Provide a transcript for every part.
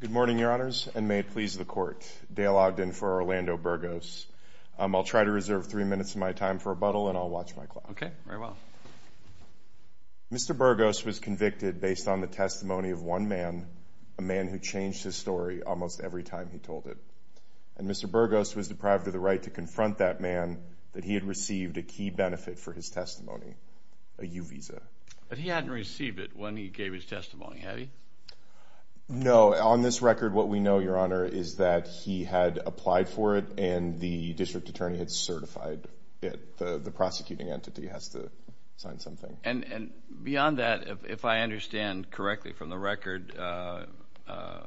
Good morning, your honors, and may it please the court. Dale Ogden for Orlando Burgos. I'll try to reserve three minutes of my time for rebuttal and I'll watch my clock. Okay, very well. Mr. Burgos was convicted based on the testimony of one man, a man who changed his story almost every time he told it. And Mr. Burgos was deprived of the right to confront that man that he had received a key benefit for his testimony, a U-Visa. But he hadn't received it when he gave his testimony, had he? No. On this record, what we know, your honor, is that he had applied for it and the district attorney had certified it. The prosecuting entity has to sign something. And beyond that, if I understand correctly from the record, Mr.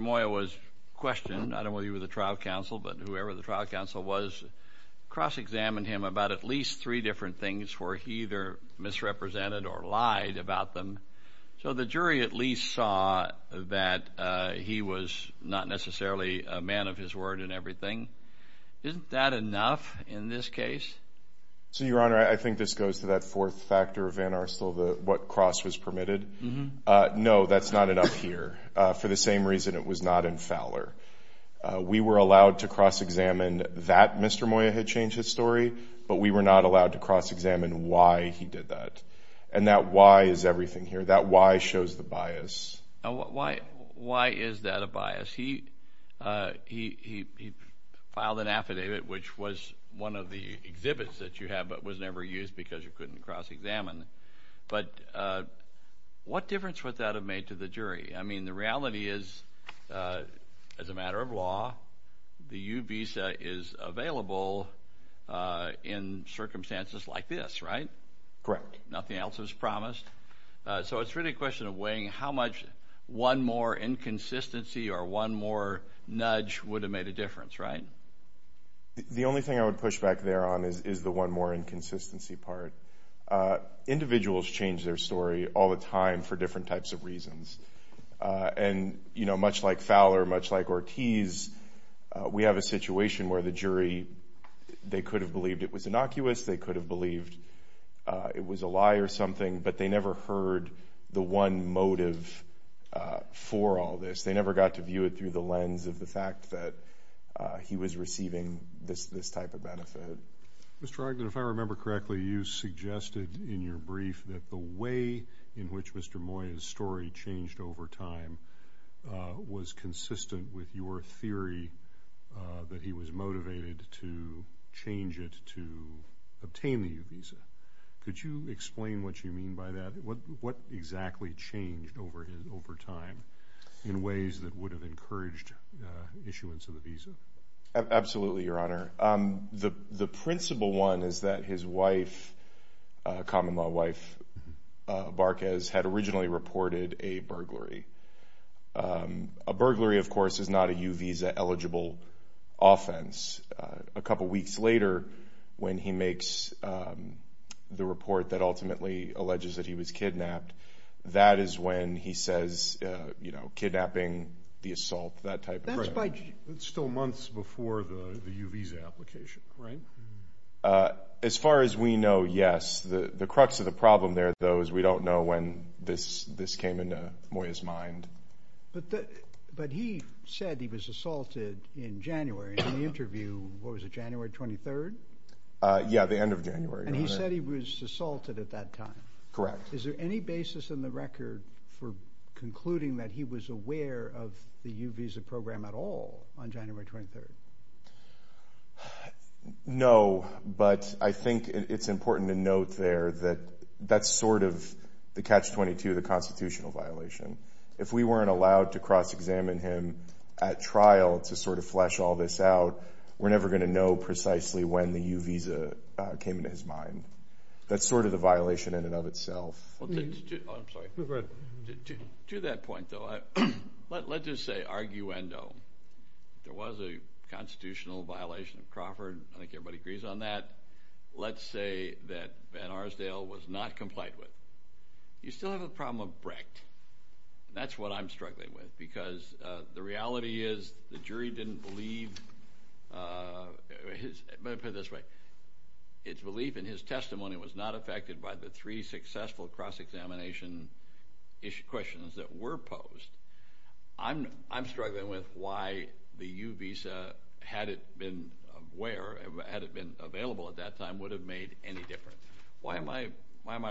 Moya was questioned. Not only were you with the trial counsel, but whoever the trial counsel was cross-examined him about at least three different things where he either misrepresented or lied about them. So the jury at least saw that he was not necessarily a man of his word in everything. Isn't that enough in this case? So, your honor, I think this goes to that fourth factor of Van Arstle, what cross was permitted. No, that's not enough here for the same reason it was not in Fowler. We were allowed to cross-examine that Mr. Moya had changed his story, but we were not allowed to cross-examine why he did that. And that why is everything here. That why shows the bias. Why is that a bias? He filed an affidavit, which was one of the exhibits that you have, but was never used because you couldn't cross-examine. But what difference would that have made to the jury? I mean, the reality is, as a matter of law, the U visa is available in circumstances like this, right? Correct. Nothing else was promised. So it's really a question of weighing how much one more inconsistency or one more nudge would have made a difference, right? The only thing I would push back there on is the one more inconsistency part. Individuals change their story all the time for different types of reasons. And, you know, much like Fowler, much like Ortiz, we have a situation where the jury, they could have believed it was innocuous, they could have believed it was a lie or something, but they never heard the one motive for all this. They never got to view it through the lens of the fact that he was receiving this type of benefit. Mr. Ogden, if I remember correctly, you suggested in your brief that the way in which Mr. Moyer's story changed over time was consistent with your theory that he was motivated to change it to obtain the U visa. Could you explain what you mean by that? What exactly changed over time in ways that would have encouraged issuance of the visa? Absolutely, Your Honor. The principal one is that his wife, common law wife, Barquez, had originally reported a burglary. A burglary, of course, is not a U visa eligible offense. A couple weeks later, when he makes the report that ultimately alleges that he was kidnapped, that is when he says, you know, kidnapping, the assault, that type of thing. That's still months before the U visa application, right? As far as we know, yes. The crux of the problem there, though, is we don't know when this came into Moyer's mind. But he said he was assaulted in January. In the interview, what was it, January 23rd? Yeah, the end of January. And he said he was assaulted at that time. Correct. Is there any basis in the record for concluding that he was aware of the U visa program at all on January 23rd? No, but I think it's important to note there that that's sort of the Catch-22, the constitutional violation. If we weren't allowed to cross-examine him at trial to sort of flesh all this out, we're never going to know precisely when the U visa came into his mind. That's sort of the violation in and of itself. I'm sorry. Go ahead. To that point, though, let's just say arguendo. There was a constitutional violation of Crawford. I think everybody agrees on that. Let's say that Van Arsdale was not complied with. You still have the problem of Brecht. That's what I'm struggling with because the reality is the jury didn't believe, I'm going to put it this way, its belief in his testimony was not affected by the three successful cross-examination questions that were posed. I'm struggling with why the U visa, had it been where, had it been available at that time, would have made any difference. Why am I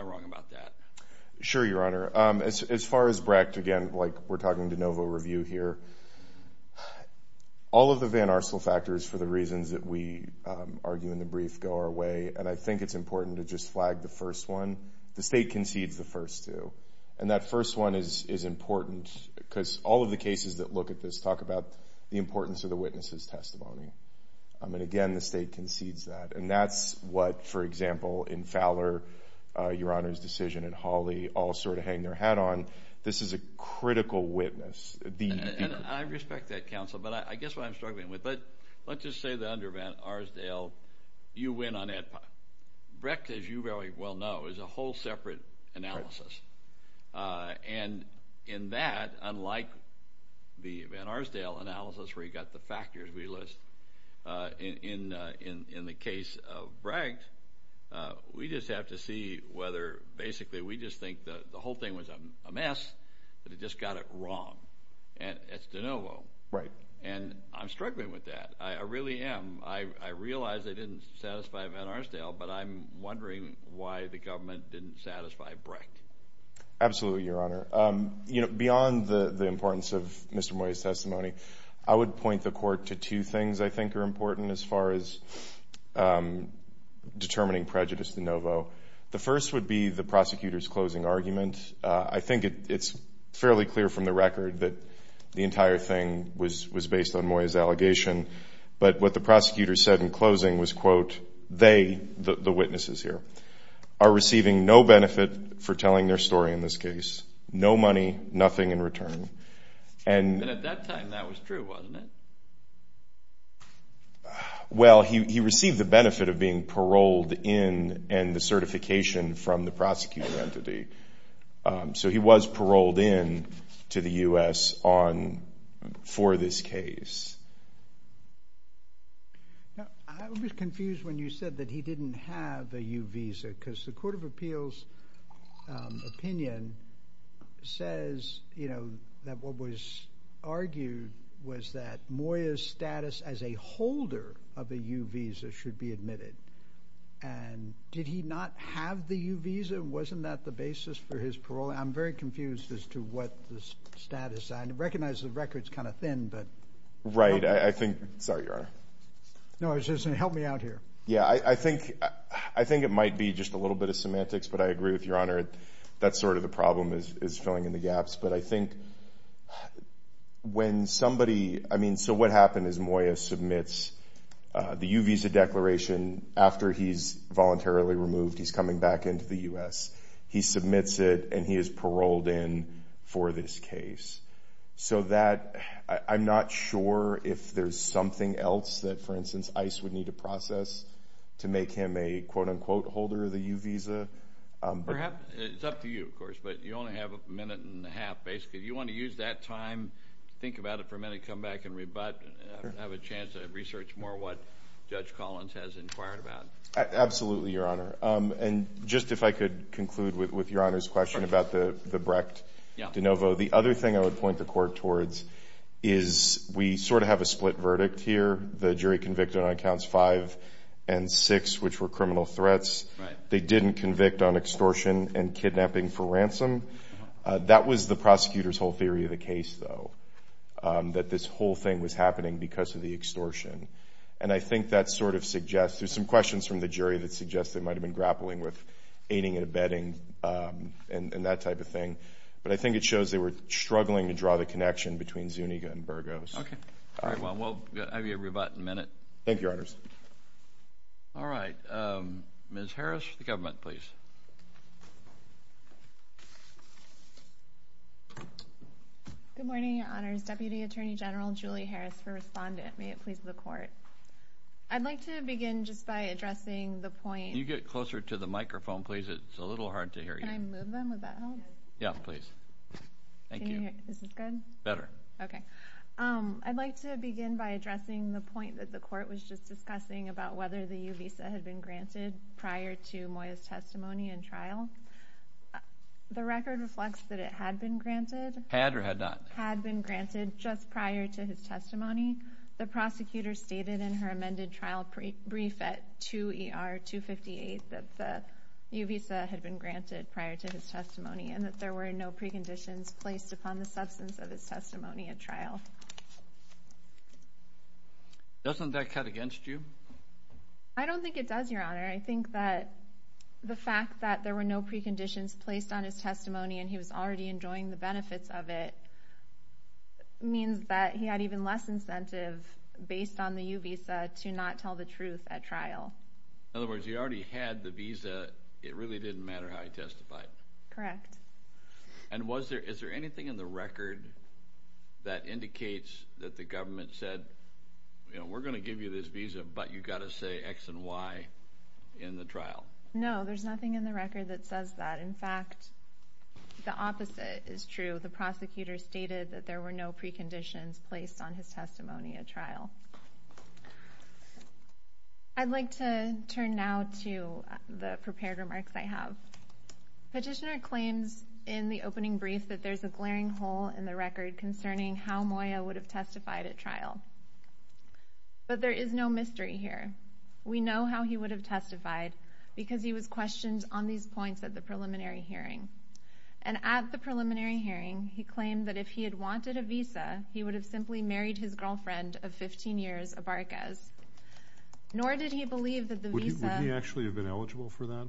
wrong about that? Sure, Your Honor. As far as Brecht, again, we're talking de novo review here. All of the Van Arsdale factors, for the reasons that we argue in the brief, go our way, and I think it's important to just flag the first one. The State concedes the first two, and that first one is important because all of the cases that look at this talk about the importance of the witness's testimony. Again, the State concedes that, and that's what, for example, in Fowler, Your Honor's decision, and Hawley all sort of hang their hat on. This is a critical witness. And I respect that, counsel, but I guess what I'm struggling with, but let's just say that under Van Arsdale, you win on Ed Pie. Brecht, as you very well know, is a whole separate analysis. And in that, unlike the Van Arsdale analysis where you've got the factors we list, in the case of Brecht, we just have to see whether basically we just think the whole thing was a mess, that it just got it wrong, and it's de novo. Right. And I'm struggling with that. I really am. I realize I didn't satisfy Van Arsdale, but I'm wondering why the government didn't satisfy Brecht. Absolutely, Your Honor. Beyond the importance of Mr. Moya's testimony, I would point the Court to two things I think are important as far as determining prejudice de novo. The first would be the prosecutor's closing argument. I think it's fairly clear from the record that the entire thing was based on Moya's allegation. But what the prosecutor said in closing was, quote, they, the witnesses here, are receiving no benefit for telling their story in this case. No money, nothing in return. And at that time, that was true, wasn't it? Well, he received the benefit of being paroled in and the certification from the prosecuting entity. So he was paroled in to the U.S. for this case. Now, I was confused when you said that he didn't have a U visa because the Court of Appeals' opinion says, you know, that what was argued was that Moya's status as a holder of a U visa should be admitted. And did he not have the U visa? Wasn't that the basis for his parole? I'm very confused as to what the status. I recognize the record's kind of thin, but. Right, I think. Sorry, Your Honor. No, I was just saying, help me out here. Yeah, I think it might be just a little bit of semantics, but I agree with Your Honor. That's sort of the problem is filling in the gaps. But I think when somebody, I mean, so what happened is Moya submits the U visa declaration. After he's voluntarily removed, he's coming back into the U.S. He submits it, and he is paroled in for this case. So that, I'm not sure if there's something else that, for instance, ICE would need to process to make him a quote-unquote holder of the U visa. It's up to you, of course, but you only have a minute and a half, basically. If you want to use that time, think about it for a minute, come back and rebut, have a chance to research more what Judge Collins has inquired about. Absolutely, Your Honor. And just if I could conclude with Your Honor's question about the Brecht de novo. The other thing I would point the Court towards is we sort of have a split verdict here. The jury convicted on Accounts 5 and 6, which were criminal threats. They didn't convict on extortion and kidnapping for ransom. That was the prosecutor's whole theory of the case, though, that this whole thing was happening because of the extortion. And I think that sort of suggests there's some questions from the jury that suggests they might have been grappling with aiding and abetting and that type of thing. But I think it shows they were struggling to draw the connection between Zuniga and Burgos. Okay. All right, well, we'll have you rebut in a minute. Thank you, Your Honors. All right, Ms. Harris for the government, please. Good morning, Your Honors. Deputy Attorney General Julie Harris for Respondent. May it please the Court. I'd like to begin just by addressing the point. Can you get closer to the microphone, please? It's a little hard to hear you. Can I move them? Would that help? Yeah, please. Thank you. Is this good? Better. Okay. I'd like to begin by addressing the point that the Court was just discussing about whether the U visa had been granted prior to Moya's testimony and trial. The record reflects that it had been granted. Had or had not? Had been granted just prior to his testimony. The prosecutor stated in her amended trial brief at 2 ER 258 that the U visa had been granted prior to his testimony and that there were no preconditions placed upon the substance of his testimony at trial. Doesn't that cut against you? I don't think it does, Your Honor. I think that the fact that there were no preconditions placed on his testimony and he was already enjoying the benefits of it means that he had even less incentive, based on the U visa, to not tell the truth at trial. In other words, he already had the visa. It really didn't matter how he testified. Correct. And is there anything in the record that indicates that the government said, you know, we're going to give you this visa, but you've got to say X and Y in the trial? No, there's nothing in the record that says that. In fact, the opposite is true. The prosecutor stated that there were no preconditions placed on his testimony at trial. I'd like to turn now to the prepared remarks I have. Petitioner claims in the opening brief that there's a glaring hole in the record concerning how Moya would have testified at trial. But there is no mystery here. We know how he would have testified because he was questioned on these points at the preliminary hearing. And at the preliminary hearing, he claimed that if he had wanted a visa, he would have simply married his girlfriend of 15 years, Abarquez. Nor did he believe that the visa Would he actually have been eligible for that?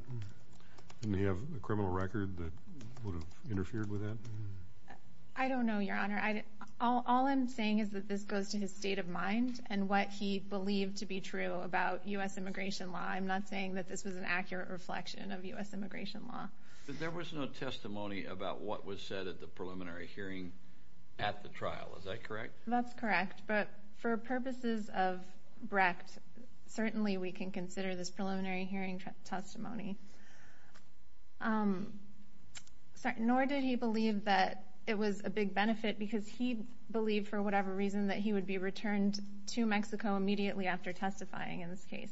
Didn't he have a criminal record that would have interfered with that? I don't know, Your Honor. All I'm saying is that this goes to his state of mind and what he believed to be true about U.S. immigration law. I'm not saying that this was an accurate reflection of U.S. immigration law. But there was no testimony about what was said at the preliminary hearing at the trial. Is that correct? That's correct. But for purposes of Brecht, certainly we can consider this preliminary hearing testimony. Nor did he believe that it was a big benefit because he believed, for whatever reason, that he would be returned to Mexico immediately after testifying in this case.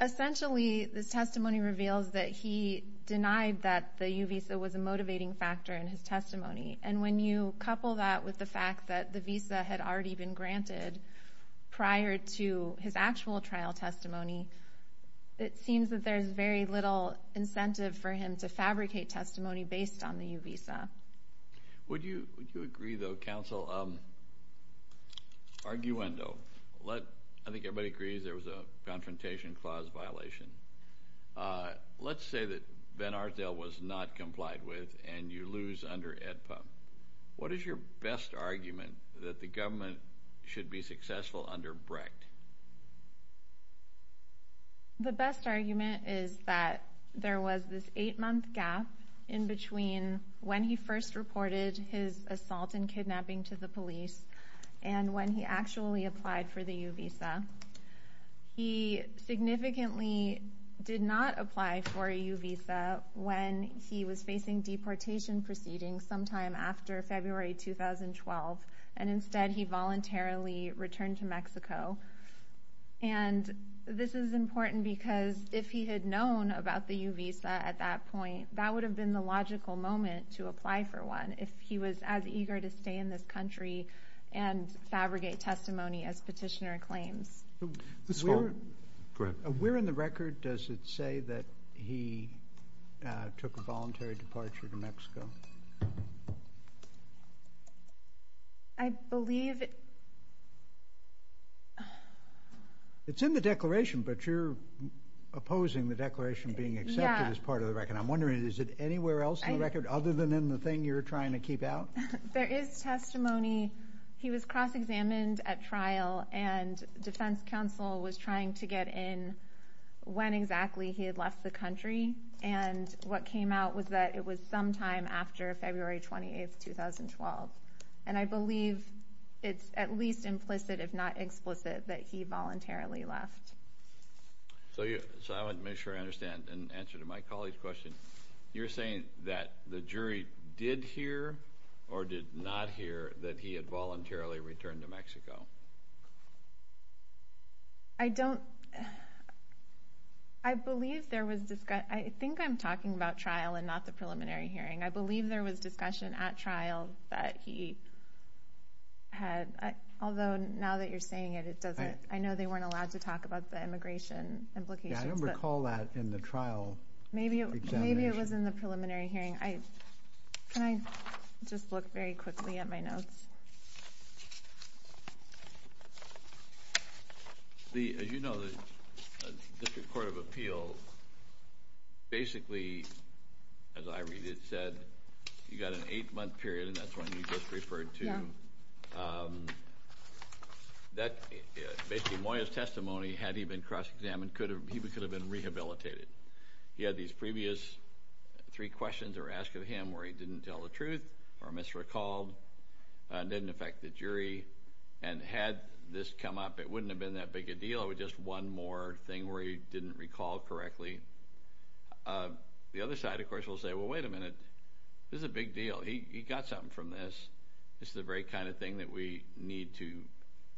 Essentially, this testimony reveals that he denied that the U visa was a motivating factor in his testimony. And when you couple that with the fact that the visa had already been granted prior to his actual trial testimony, it seems that there's very little incentive for him to fabricate testimony based on the U visa. Would you agree, though, Counsel? Arguendo. I think everybody agrees there was a confrontation clause violation. Let's say that Van Arsdale was not complied with and you lose under AEDPA. What is your best argument that the government should be successful under Brecht? The best argument is that there was this eight-month gap in between when he first reported his assault and kidnapping to the police and when he actually applied for the U visa. He significantly did not apply for a U visa when he was facing deportation proceedings sometime after February 2012, and instead he voluntarily returned to Mexico. And this is important because if he had known about the U visa at that point, that would have been the logical moment to apply for one if he was as eager to stay in this country and fabricate testimony as petitioner claims. Where in the record does it say that he took a voluntary departure to Mexico? I believe... It's in the declaration, and I'm wondering, is it anywhere else in the record other than in the thing you're trying to keep out? There is testimony. He was cross-examined at trial, and defense counsel was trying to get in when exactly he had left the country, and what came out was that it was sometime after February 28, 2012. And I believe it's at least implicit, if not explicit, that he voluntarily left. So I want to make sure I understand and answer to my colleague's question. You're saying that the jury did hear or did not hear that he had voluntarily returned to Mexico? I don't... I believe there was... I think I'm talking about trial and not the preliminary hearing. I believe there was discussion at trial that he had... Although now that you're saying it, I know they weren't allowed to talk about the immigration implications. Yeah, I don't recall that in the trial examination. Maybe it was in the preliminary hearing. Can I just look very quickly at my notes? Lee, as you know, the District Court of Appeals basically, as I read it, said you got an eight-month period, and that's what you just referred to. Basically, Moya's testimony, had he been cross-examined, he could have been rehabilitated. He had these previous three questions that were asked of him where he didn't tell the truth or misrecalled, didn't affect the jury. And had this come up, it wouldn't have been that big a deal. It was just one more thing where he didn't recall correctly. The other side, of course, will say, well, wait a minute, this is a big deal. He got something from this. This is the very kind of thing that we need to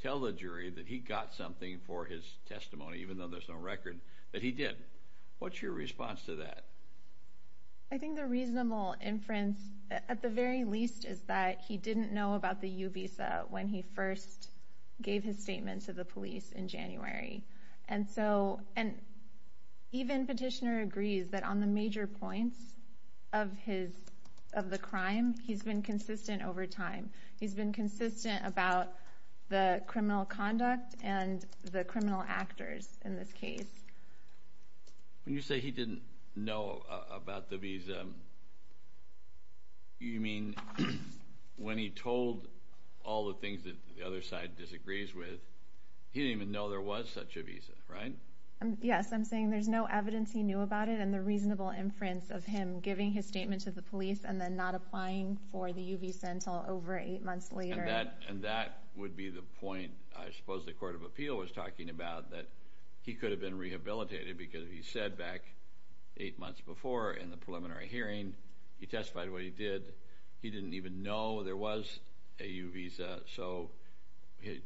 tell the jury that he got something for his testimony, even though there's no record that he did. What's your response to that? I think the reasonable inference, at the very least, is that he didn't know about the U-Visa when he first gave his statement to the police in January. And even Petitioner agrees that on the major points of the crime, he's been consistent over time. He's been consistent about the criminal conduct and the criminal actors in this case. When you say he didn't know about the visa, you mean when he told all the things that the other side disagrees with, he didn't even know there was such a visa, right? Yes. I'm saying there's no evidence he knew about it and the reasonable inference of him giving his statement to the police and then not applying for the U-Visa until over eight months later. And that would be the point I suppose the Court of Appeal was talking about, that he could have been rehabilitated because he said back eight months before in the preliminary hearing he testified what he did. He didn't even know there was a U-Visa, so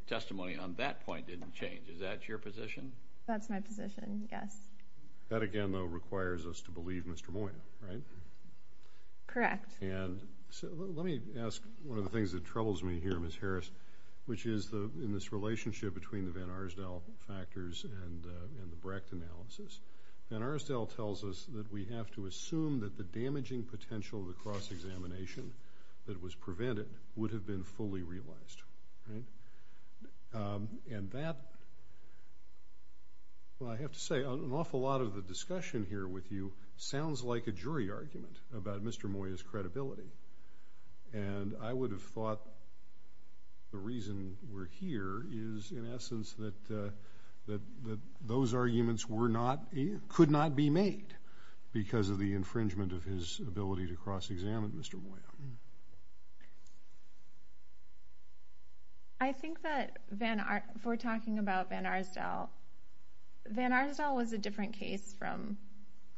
testimony on that point didn't change. Is that your position? That's my position, yes. That, again, though, requires us to believe Mr. Moya, right? Correct. Let me ask one of the things that troubles me here, Ms. Harris, which is in this relationship between the Van Arsdale factors and the Brecht analysis. Van Arsdale tells us that we have to assume that the damaging potential of the cross-examination that was prevented would have been fully realized. And that, well, I have to say, an awful lot of the discussion here with you sounds like a jury argument about Mr. Moya's credibility. And I would have thought the reason we're here is in essence that those arguments could not be made because of the infringement of his ability to cross-examine Mr. Moya. I think that if we're talking about Van Arsdale, Van Arsdale was a different case from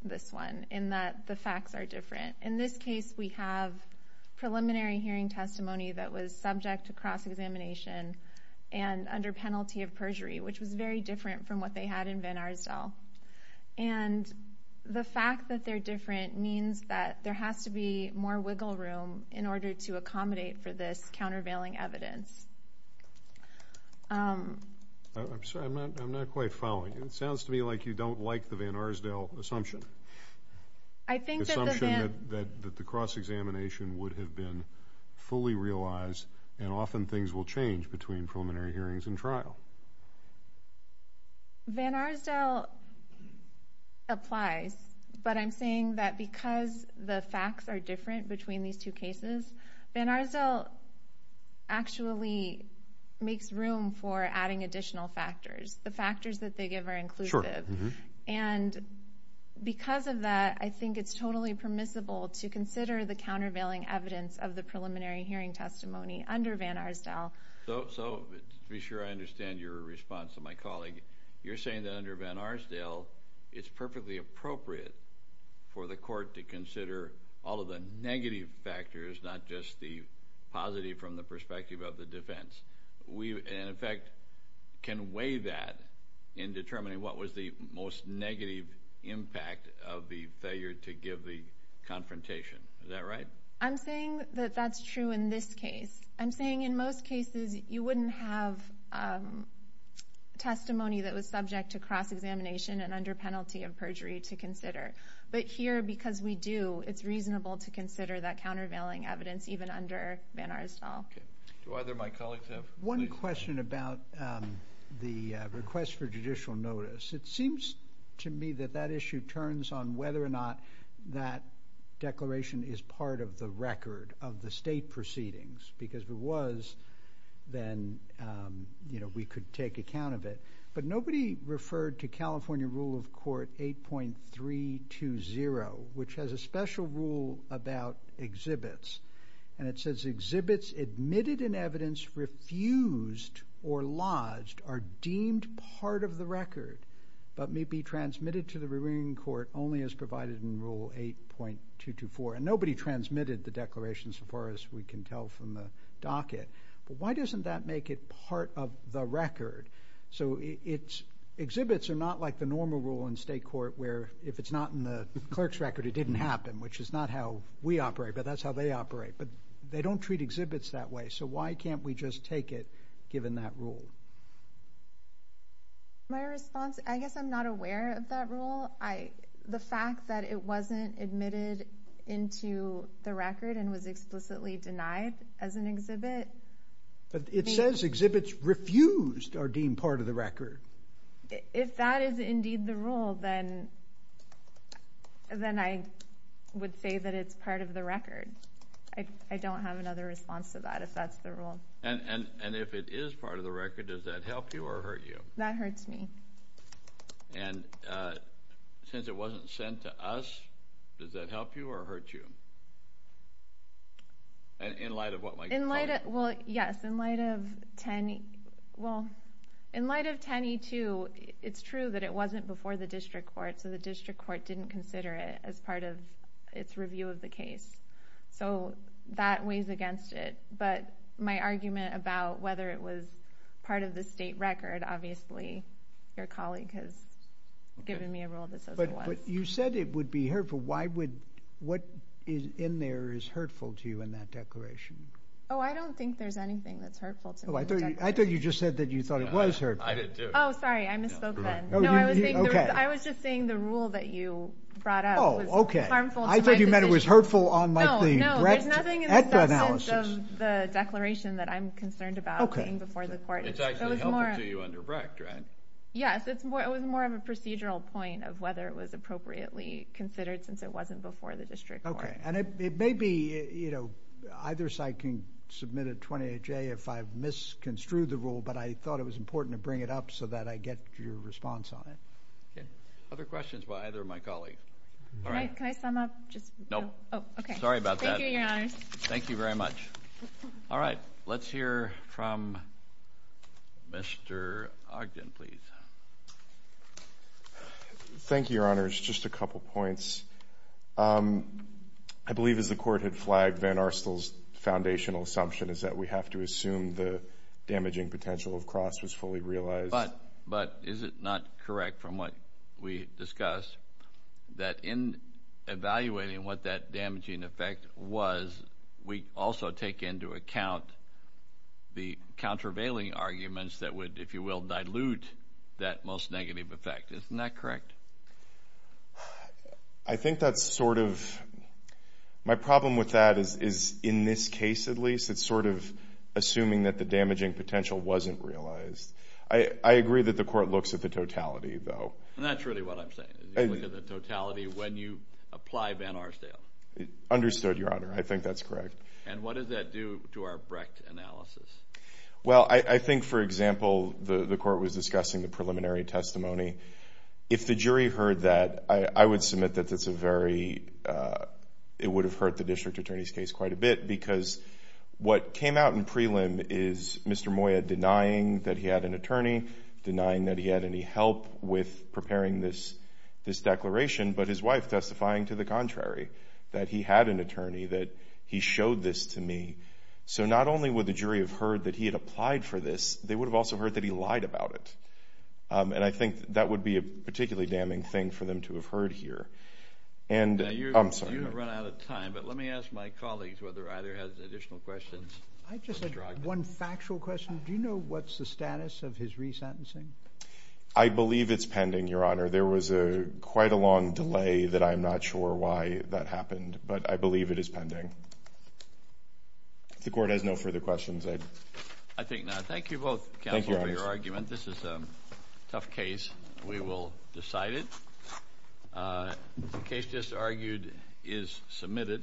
this one in that the facts are different. In this case, we have preliminary hearing testimony that was subject to cross-examination and under penalty of perjury, which was very different from what they had in Van Arsdale. And the fact that they're different means that there has to be more wiggle room in order to accommodate for this countervailing evidence. I'm sorry, I'm not quite following. It sounds to me like you don't like the Van Arsdale assumption, the assumption that the cross-examination would have been fully realized and often things will change between preliminary hearings and trial. Van Arsdale applies, but I'm saying that because the facts are different between these two cases, Van Arsdale actually makes room for adding additional factors. The factors that they give are inclusive. And because of that, I think it's totally permissible to consider the countervailing evidence of the preliminary hearing testimony under Van Arsdale. So to be sure I understand your response to my colleague, you're saying that under Van Arsdale, it's perfectly appropriate for the court to consider all of the negative factors, not just the positive from the perspective of the defense. And, in fact, can weigh that in determining what was the most negative impact of the failure to give the confrontation. Is that right? I'm saying that that's true in this case. I'm saying in most cases you wouldn't have testimony that was subject to cross-examination and under penalty of perjury to consider. But here, because we do, it's reasonable to consider that countervailing evidence even under Van Arsdale. Do either of my colleagues have... One question about the request for judicial notice. It seems to me that that issue turns on whether or not that declaration is part of the record of the state proceedings, because if it was, then we could take account of it. But nobody referred to California rule of court 8.320, which has a special rule about exhibits. And it says, Exhibits admitted in evidence refused or lodged are deemed part of the record but may be transmitted to the rearing court only as provided in rule 8.224. And nobody transmitted the declaration so far as we can tell from the docket. But why doesn't that make it part of the record? So exhibits are not like the normal rule in state court where if it's not in the clerk's record, it didn't happen, which is not how we operate, but that's how they operate. But they don't treat exhibits that way, so why can't we just take it given that rule? My response, I guess I'm not aware of that rule. The fact that it wasn't admitted into the record and was explicitly denied as an exhibit... It says exhibits refused are deemed part of the record. If that is indeed the rule, then I would say that it's part of the record. I don't have another response to that if that's the rule. And if it is part of the record, does that help you or hurt you? That hurts me. And since it wasn't sent to us, does that help you or hurt you? In light of what? Yes, in light of 10E2, it's true that it wasn't before the district court, so the district court didn't consider it as part of its review of the case. So that weighs against it. But my argument about whether it was part of the state record, obviously your colleague has given me a rule that says it was. But you said it would be hurtful. What in there is hurtful to you in that declaration? Oh, I don't think there's anything that's hurtful to me. I thought you just said that you thought it was hurtful. I did, too. Oh, sorry, I misspoke then. No, I was just saying the rule that you brought up was harmful to my position. I thought you meant it was hurtful on the Brecht et al. No, there's nothing in the substance of the declaration that I'm concerned about being before the court. It's actually helpful to you under Brecht, right? Yes, it was more of a procedural point of whether it was appropriately considered since it wasn't before the district court. Okay, and it may be either side can submit a 28-J if I've misconstrued the rule, but I thought it was important to bring it up so that I get your response on it. Other questions by either of my colleagues? Can I sum up? Okay. Sorry about that. Thank you, Your Honors. Thank you very much. All right, let's hear from Mr. Ogden, please. Thank you, Your Honors. Just a couple points. I believe as the court had flagged Van Arstel's foundational assumption is that we have to assume the damaging potential of Cross was fully realized. But is it not correct from what we discussed that in evaluating what that damaging effect was, we also take into account the countervailing arguments that would, if you will, dilute that most negative effect. Isn't that correct? I think that's sort of my problem with that is in this case at least, it's sort of assuming that the damaging potential wasn't realized. I agree that the court looks at the totality, though. And that's really what I'm saying. You look at the totality when you apply Van Arstel. Understood, Your Honor. I think that's correct. And what does that do to our Brecht analysis? Well, I think, for example, the court was discussing the preliminary testimony. If the jury heard that, I would submit that it would have hurt the district attorney's case quite a bit because what came out in prelim is Mr. Moya denying that he had an attorney, denying that he had any help with preparing this declaration, but his wife testifying to the contrary, that he had an attorney, that he showed this to me. So not only would the jury have heard that he had applied for this, they would have also heard that he lied about it. And I think that would be a particularly damning thing for them to have heard here. You've run out of time, but let me ask my colleagues whether either has additional questions. I just have one factual question. Do you know what's the status of his resentencing? I believe it's pending, Your Honor. There was quite a long delay that I'm not sure why that happened, but I believe it is pending. If the court has no further questions. I think not. Thank you both, counsel, for your argument. This is a tough case. We will decide it. The case just argued is submitted.